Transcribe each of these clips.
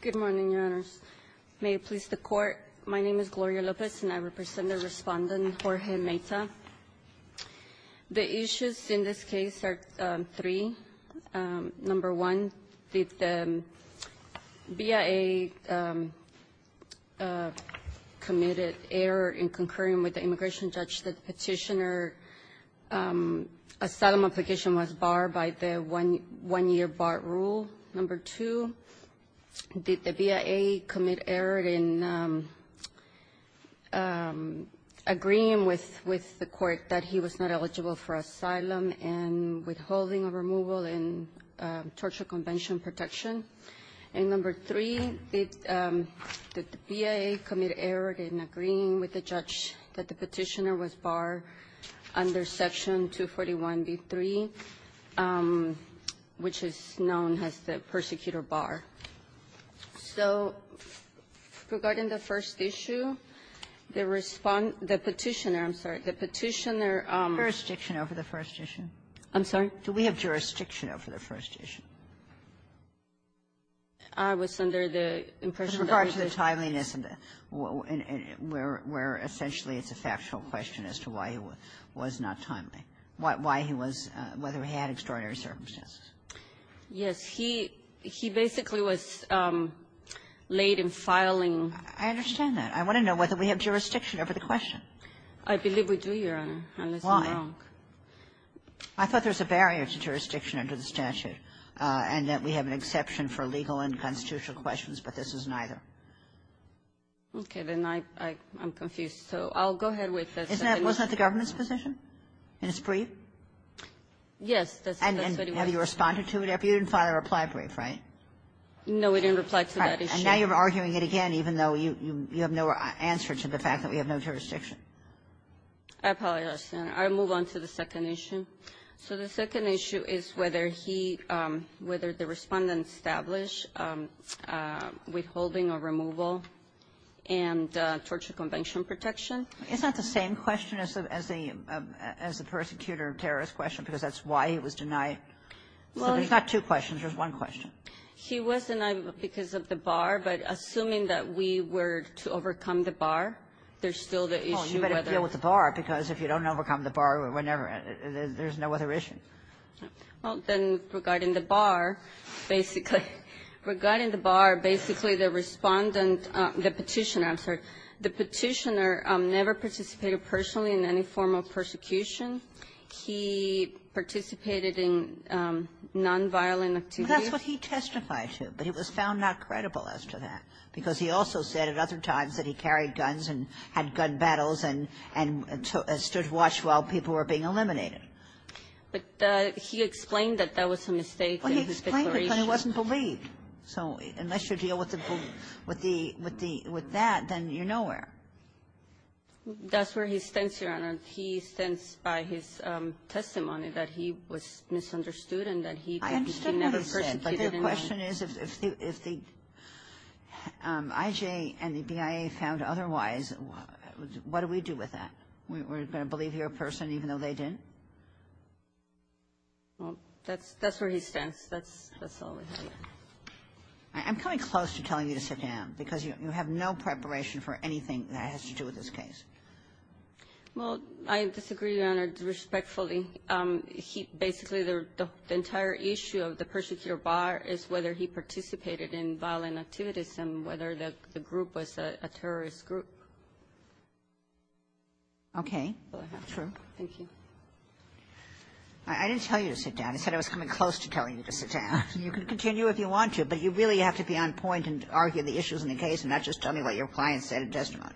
Good morning, Your Honors. May it please the Court, my name is Gloria Lopez and I represent the respondent, Jorge Mayta. The issues in this case are three. Number one, the BIA committed error in concurring with the immigration judge. The petitioner asylum application was barred by the one-year bar rule. Number two, did the BIA commit error in agreeing with the court that he was not eligible for asylum and withholding a removal in Torture Convention Protection. And number three, did the BIA commit error in agreeing with the judge that the petitioner was barred under Section 241b-3, which is known as the persecutor bar. So regarding the first issue, the respondent the petitioner, I'm sorry, the petitioner um. Kagan. Jurisdiction over the first issue? I'm sorry? Do we have jurisdiction over the first issue? I was under the impression that there was. The timeliness and where essentially it's a factual question as to why he was not timely. Why he was, whether he had extraordinary circumstances. Yes. He basically was late in filing. I understand that. I want to know whether we have jurisdiction over the question. I believe we do, Your Honor, unless I'm wrong. Why? I thought there was a barrier to jurisdiction under the statute and that we have an exception for legal and constitutional questions, but this is neither. Okay. Then I'm confused. So I'll go ahead with the second issue. Wasn't that the government's position in its brief? Yes. And then have you responded to it after you didn't file a reply brief, right? No, we didn't reply to that issue. And now you're arguing it again, even though you have no answer to the fact that we have no jurisdiction. I apologize, Your Honor. I'll move on to the second issue. So the second issue is whether he — whether the Respondent established withholding or removal and torture convention protection. Isn't that the same question as the — as the persecutor-terrorist question, because that's why he was denied? Well, he's not two questions. There's one question. He was denied because of the bar, but assuming that we were to overcome the bar, there's still the issue whether — there's no other issue. Well, then regarding the bar, basically — regarding the bar, basically, the Respondent — the Petitioner, I'm sorry. The Petitioner never participated personally in any form of persecution. He participated in nonviolent activity. Well, that's what he testified to, but it was found not credible as to that, because he also said at other times that he carried guns and had gun battles and stood watch while people were being eliminated. But he explained that that was a mistake in his declaration. Well, he explained it, but it wasn't believed. So unless you deal with the — with the — with that, then you're nowhere. That's where he stands, Your Honor. He stands by his testimony that he was misunderstood and that he could — he never persecuted anyone. I understand what he said, but the question is if the IJA and the BIA found otherwise, what do we do with that? We're going to believe your person even though they didn't? Well, that's — that's where he stands. That's — that's all I have. I'm coming close to telling you to sit down, because you have no preparation for anything that has to do with this case. Well, I disagree, Your Honor, respectfully. He — basically, the entire issue of the persecutor bar is whether he participated in violent activities and whether the group was a terrorist group. Okay. Sure. Thank you. I didn't tell you to sit down. I said I was coming close to telling you to sit down. You can continue if you want to, but you really have to be on point and argue the issues in the case and not just tell me what your client said in testimony.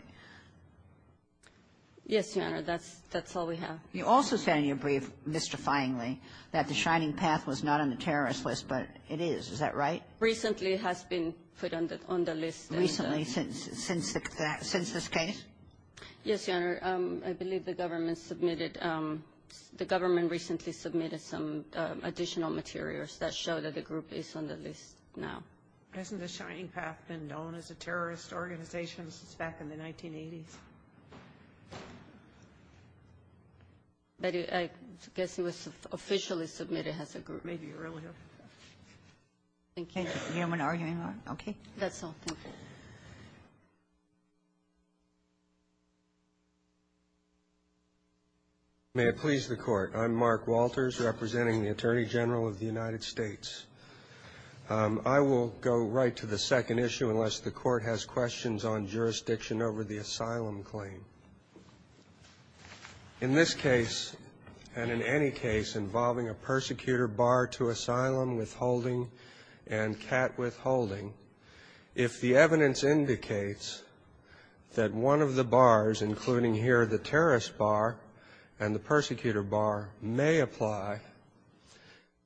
Yes, Your Honor. That's — that's all we have. You also said in your brief, mystifyingly, that the Shining Path was not on the terrorist list, but it is. Is that right? Recently, it has been put on the — on the list. Recently, since — since the — since this case? Yes, Your Honor. I believe the government submitted — the government recently submitted some additional materials that show that the group is on the list now. Hasn't the Shining Path been known as a terrorist organization since back in the 1980s? I guess it was officially submitted as a group. Maybe earlier. Thank you. Thank you. Okay. That's all. Thank you. May it please the Court. I'm Mark Walters, representing the Attorney General of the United States. I will go right to the second issue unless the Court has questions on jurisdiction over the asylum claim. In this case, and in any case involving a persecutor barred to asylum, withholding, and cat withholding, if the evidence indicates that one of the bars, including here the terrorist bar and the persecutor bar, may apply,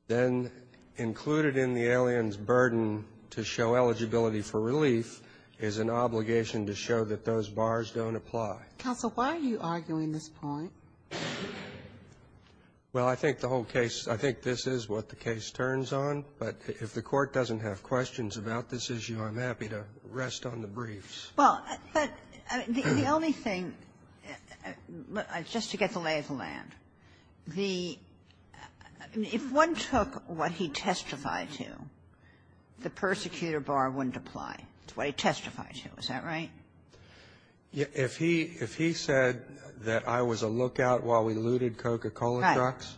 then included in the alien's burden to show eligibility for relief is an obligation to show that those bars don't apply. Counsel, why are you arguing this point? Well, I think the whole case, I think this is what the case turns on, but if the Court doesn't have questions about this issue, I'm happy to rest on the briefs. Well, but the only thing, just to get the lay of the land, the — if one took what he testified to, the persecutor bar wouldn't apply. It's what he testified to. Is that right? If he said that I was a lookout while we looted Coca-Cola trucks,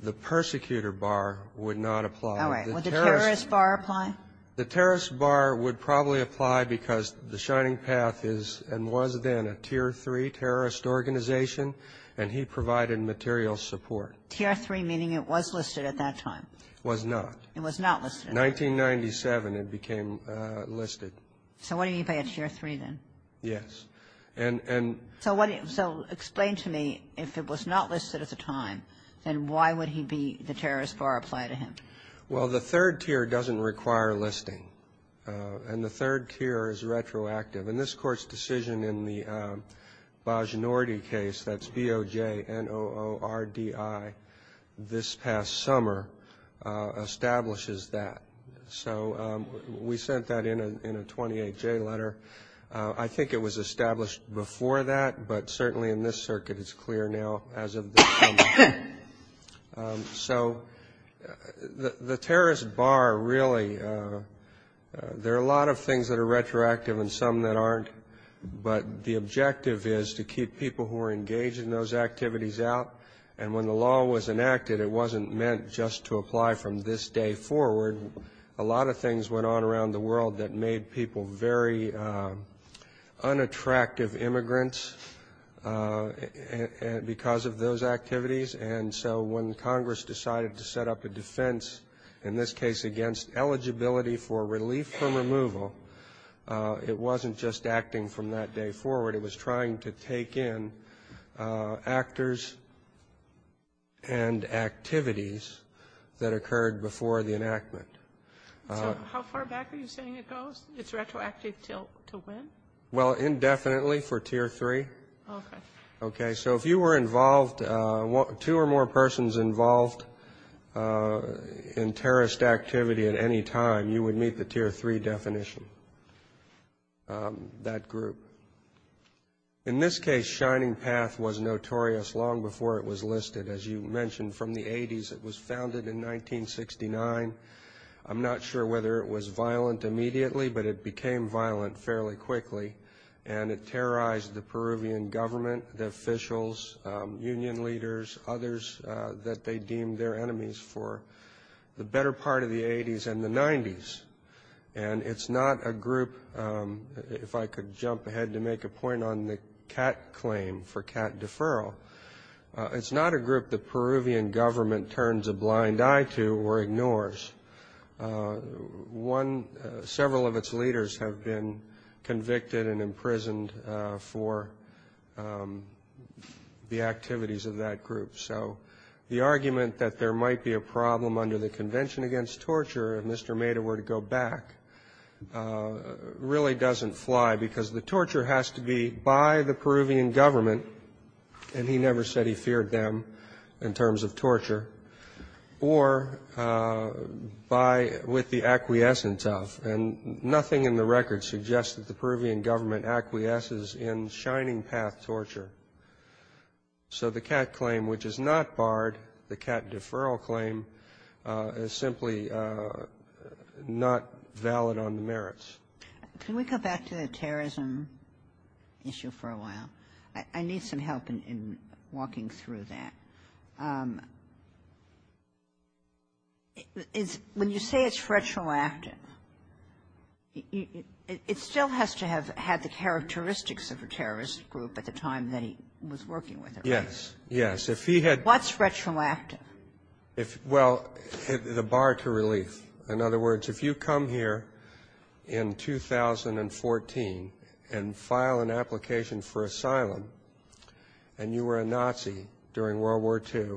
the persecutor bar would not apply. All right. Would the terrorist bar apply? The terrorist bar would probably apply because the Shining Path is and was then a Tier III terrorist organization, and he provided material support. Tier III, meaning it was listed at that time. It was not. It was not listed. In 1997, it became listed. So what do you mean by a Tier III, then? Yes. And — So what — so explain to me, if it was not listed at the time, then why would he be — the terrorist bar apply to him? Well, the third tier doesn't require listing. And the third tier is retroactive. And this Court's decision in the Bojnordi case, that's B-O-J-N-O-O-R-D-I, this past summer establishes that. So we sent that in a 28-J letter. I think it was established before that, but certainly in this circuit it's clear now as of this summer. So the terrorist bar really — there are a lot of things that are retroactive and some that aren't. But the objective is to keep people who are engaged in those activities out. And when the law was enacted, it wasn't meant just to apply from this day forward. A lot of things went on around the world that made people very unattractive immigrants because of those activities. And so when Congress decided to set up a defense, in this case against eligibility for relief from removal, it wasn't just acting from that day forward. It was trying to take in actors and activities that occurred before the enactment. So how far back are you saying it goes? It's retroactive to when? Well, indefinitely for Tier 3. Okay. So if you were involved — two or more persons involved in terrorist activity at any time, you would meet the Tier 3 definition, that group. In this case, Shining Path was notorious long before it was listed. As you mentioned, from the 80s. It was founded in 1969. I'm not sure whether it was violent immediately, but it became violent fairly quickly. And it terrorized the Peruvian government, the officials, union leaders, others that they deemed their enemies for the better part of the 80s and the 90s. And it's not a group — if I could jump ahead to make a point on the CAT claim for CAT deferral — it's not a group the Peruvian government turns a blind eye to or ignores. One — several of its leaders have been convicted and imprisoned for the activities of that group. So the argument that there might be a problem under the Convention Against Torture if Mr. Meda were to go back really doesn't fly, because the torture has to be by the Peruvian government — and he never said he feared them in terms of torture — or by — with the acquiescence of. And nothing in the record suggests that the Peruvian government acquiesces in Shining Path torture. So the CAT claim, which is not barred, the CAT deferral claim, is simply not valid on the merits. Can we go back to the terrorism issue for a while? I need some help in walking through that. When you say it's retroactive, it still has to have had the characteristics of a terrorist group at the time that he was working with it, right? Yes. Yes. If he had — What's retroactive? Well, the bar to relief. In other words, if you come here in 2014 and file an application for asylum, and you were a Nazi during World War II,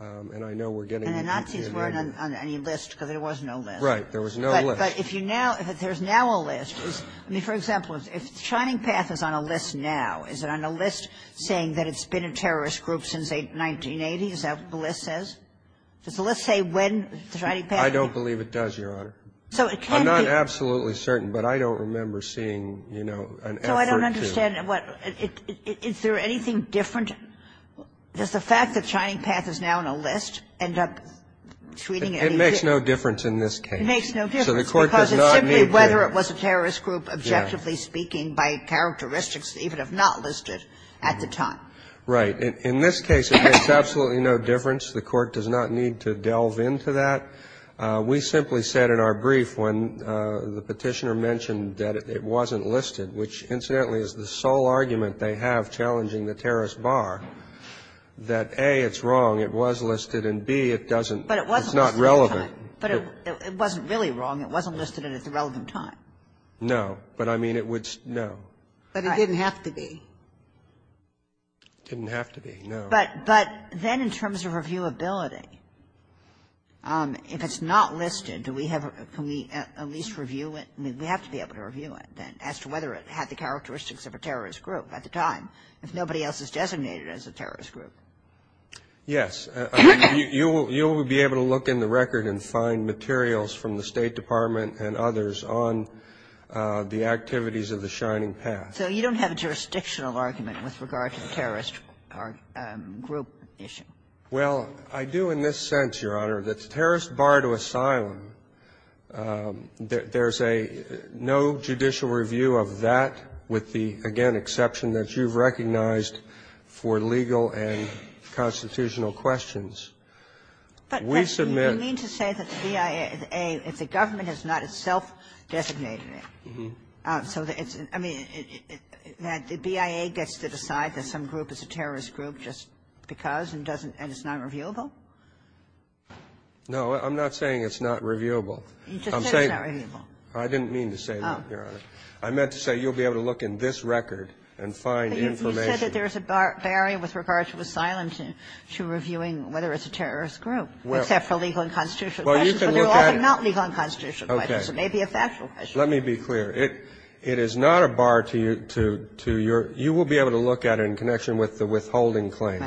and I know we're getting — And the Nazis weren't on any list, because there was no list. Right. There was no list. But if you now — if there's now a list — I mean, for example, if Shining Path is on a list now, is it on a list saying that it's been a terrorist group since 1980? Is that what the list says? Does the list say when Shining Path — I don't believe it does, Your Honor. So it can be — I'm not absolutely certain, but I don't remember seeing, you know, an effort to — So I don't understand what — is there anything different? Does the fact that Shining Path is now on a list end up treating it — It makes no difference in this case. It makes no difference. So the Court does not need to — Because it's simply whether it was a terrorist group, objectively speaking, by characteristics that even if not listed at the time. Right. In this case, it makes absolutely no difference. The Court does not need to delve into that. We simply said in our brief when the Petitioner mentioned that it wasn't listed, which, incidentally, is the sole argument they have challenging the terrorist bar, that, A, it's wrong, it was listed, and, B, it doesn't — But it wasn't listed at the time. It's not relevant. But it wasn't really wrong. It wasn't listed at the relevant time. No. But, I mean, it would — no. But it didn't have to be. It didn't have to be. No. But then in terms of reviewability, if it's not listed, do we have — can we at least review it? I mean, we have to be able to review it, then, as to whether it had the characteristics of a terrorist group at the time, if nobody else is designated as a terrorist group. Yes. I mean, you will be able to look in the record and find materials from the State Department and others on the activities of the Shining Path. So you don't have a jurisdictional argument with regard to the terrorist group issue? Well, I do in this sense, Your Honor, that the terrorist bar to asylum, there's a — no judicial review of that with the, again, exception that you've recognized for legal and constitutional questions. We submit — But you mean to say that the BIA, if the government has not itself designated So it's — I mean, that the BIA gets to decide that some group is a terrorist group just because and doesn't — and it's not reviewable? No. I'm not saying it's not reviewable. You just said it's not reviewable. I didn't mean to say that, Your Honor. I meant to say you'll be able to look in this record and find information. But you said that there's a barrier with regard to asylum to reviewing whether it's a terrorist group, except for legal and constitutional questions. Well, you can look at it. But they're also not legal and constitutional questions. Okay. So it may be a factual question. Let me be clear. It is not a bar to your — you will be able to look at it in connection with the withholding claims.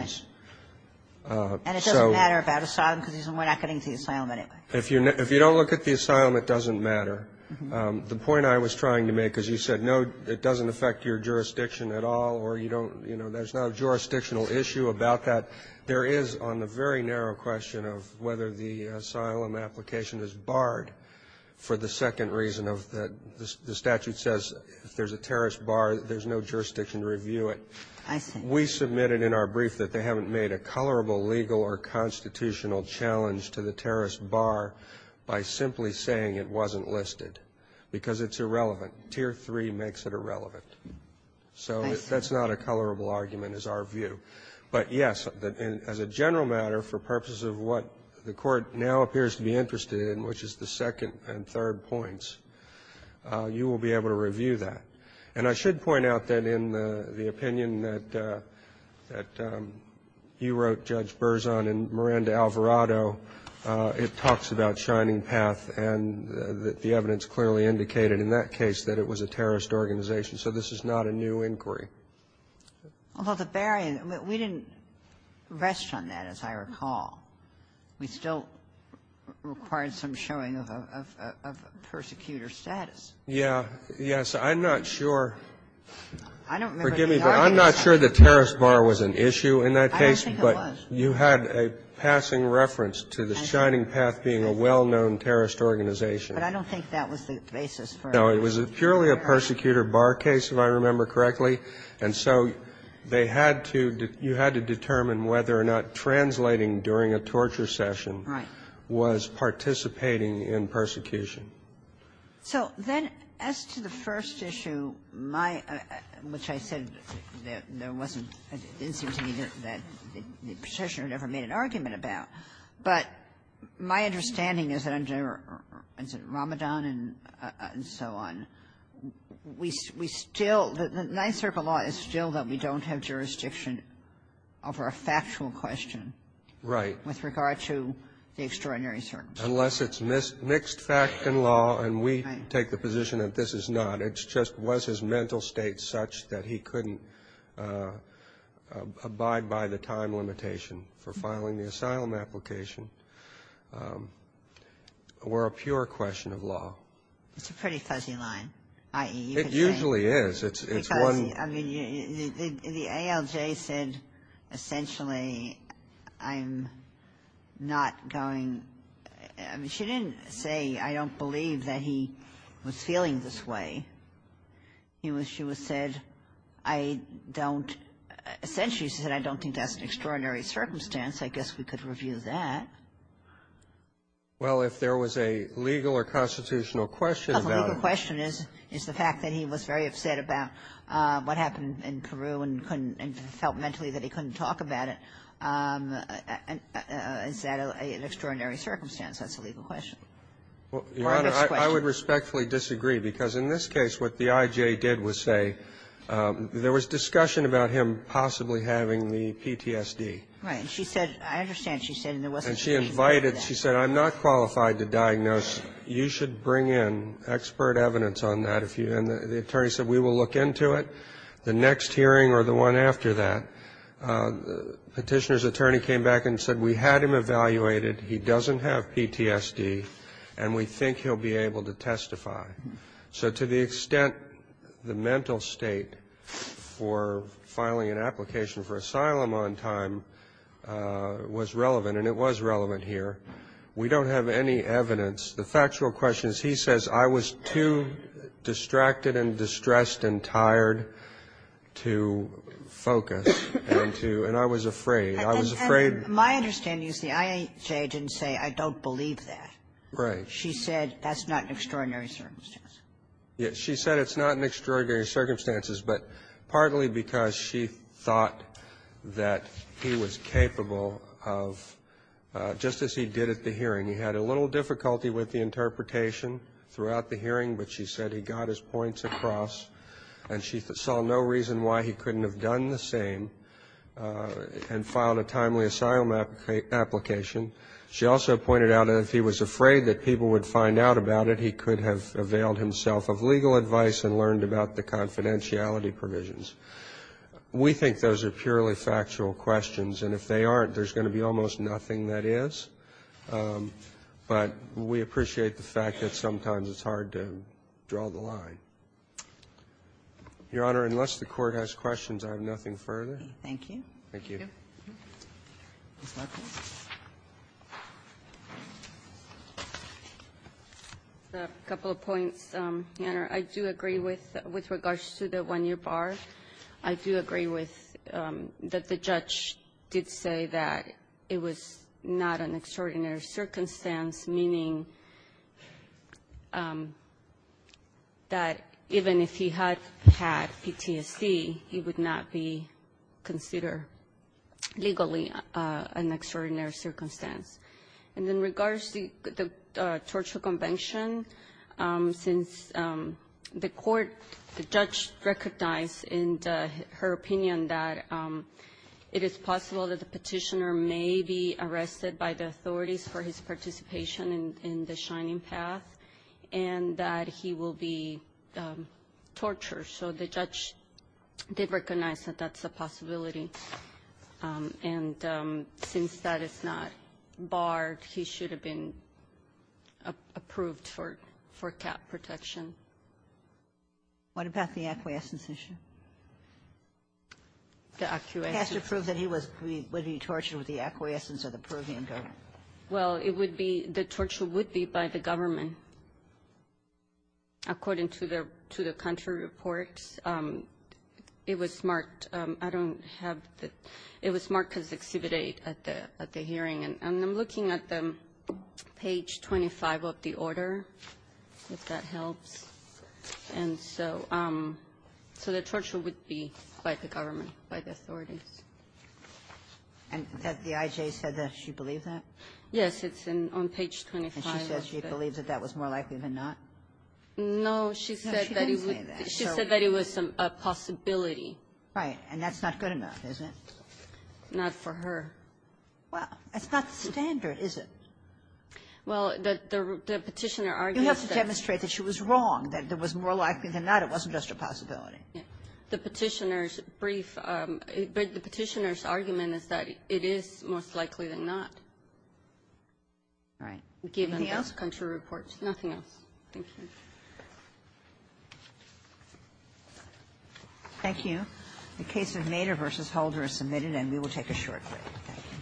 Right. And it doesn't matter about asylum because we're not getting to the asylum anyway. If you don't look at the asylum, it doesn't matter. The point I was trying to make, because you said, no, it doesn't affect your jurisdiction at all, or you don't — you know, there's no jurisdictional issue about that. There is on the very narrow question of whether the asylum application is barred for the second reason of the statute says if there's a terrorist bar, there's no jurisdiction to review it. I see. We submitted in our brief that they haven't made a colorable legal or constitutional challenge to the terrorist bar by simply saying it wasn't listed because it's irrelevant. Tier 3 makes it irrelevant. I see. So that's not a colorable argument, is our view. But, yes, as a general matter, for purposes of what the Court now appears to be interested in, which is the second and third points, you will be able to review that. And I should point out that in the opinion that you wrote, Judge Berzon, in Miranda Alvarado, it talks about Shining Path and that the evidence clearly indicated in that case that it was a terrorist organization. So this is not a new inquiry. Well, the barrier — we didn't rest on that, as I recall. We still required some showing of persecutor status. Yeah. Yes. I'm not sure. I don't remember the argument. Forgive me, but I'm not sure the terrorist bar was an issue in that case. I don't think it was. But you had a passing reference to the Shining Path being a well-known terrorist organization. But I don't think that was the basis for — It was purely a persecutor bar case, if I remember correctly. And so they had to — you had to determine whether or not translating during a torture session was participating in persecution. So then as to the first issue, my — which I said there wasn't an incident that the Petitioner never made an argument about, but my understanding is that under, say, Ramadan and so on, we still — the ninth circumstance of historical law is still that we don't have jurisdiction over a factual question. Right. With regard to the extraordinary circumstance. Unless it's mixed fact and law, and we take the position that this is not. It's just, was his mental state such that he couldn't abide by the time limitation for filing the asylum application, or a pure question of law? It's a pretty fuzzy line, i.e. It usually is. It's one — Because, I mean, the ALJ said, essentially, I'm not going — I mean, she didn't say, I don't believe that he was feeling this way. She said, I don't — essentially said, I don't think that's an extraordinary circumstance. I guess we could review that. Well, if there was a legal or constitutional question about it. The legal question is the fact that he was very upset about what happened in Peru and couldn't — and felt mentally that he couldn't talk about it. Is that an extraordinary circumstance? That's the legal question. Your Honor, I would respectfully disagree, because in this case, what the IJ did was say there was discussion about him possibly having the PTSD. Right. And she said — I understand she said there wasn't any reason for that. She said, I'm not qualified to diagnose. You should bring in expert evidence on that. And the attorney said, we will look into it, the next hearing or the one after that. Petitioner's attorney came back and said, we had him evaluated. He doesn't have PTSD, and we think he'll be able to testify. So to the extent the mental state for filing an application for asylum on time was relevant here, we don't have any evidence. The factual question is he says, I was too distracted and distressed and tired to focus and to — and I was afraid. I was afraid. My understanding is the IJ didn't say, I don't believe that. Right. She said, that's not an extraordinary circumstance. Yes. She said it's not an extraordinary circumstance, but partly because she thought that he was capable of, just as he did at the hearing, he had a little difficulty with the interpretation throughout the hearing, but she said he got his points across, and she saw no reason why he couldn't have done the same and filed a timely asylum application. She also pointed out that if he was afraid that people would find out about it, he could have availed himself of legal advice and learned about the confidentiality provisions. We think those are purely factual questions. And if they aren't, there's going to be almost nothing that is. But we appreciate the fact that sometimes it's hard to draw the line. Your Honor, unless the Court has questions, I have nothing further. Thank you. Thank you. A couple of points, Your Honor. I do agree with the one-year bar. I do agree with that the judge did say that it was not an extraordinary circumstance, meaning that even if he had had PTSD, he would not be considered legally an extraordinary circumstance. And in regards to the torture convention, since the court, the judge recognized in her opinion that it is possible that the Petitioner may be arrested by the authorities for his participation in the Shining Path, and that he will be tortured. So the judge did recognize that that's a possibility. And since that is not barred, he should have been approved for cap protection. What about the acquiescence issue? The acquiescence. He has to prove that he was being tortured with the acquiescence of the Peruvian government. Well, it would be the torture would be by the government. According to the country reports, it was marked. I don't have the – it was marked as Exhibit 8 at the hearing. And I'm looking at the page 25 of the order, if that helps. And so the torture would be by the government, by the authorities. And the IJ said that she believed that? Yes, it's on page 25. And she said she believed that that was more likely than not? No, she said that it was a possibility. Right. And that's not good enough, is it? Not for her. Well, that's not standard, is it? Well, the Petitioner argues that the – You have to demonstrate that she was wrong, that it was more likely than not, it wasn't just a possibility. The Petitioner's brief – the Petitioner's argument is that it is more likely than not. Right. Anything else? Given the country reports. Nothing else. Thank you. Thank you. The case of Nader v. Holder is submitted, and we will take a short break. Thank you.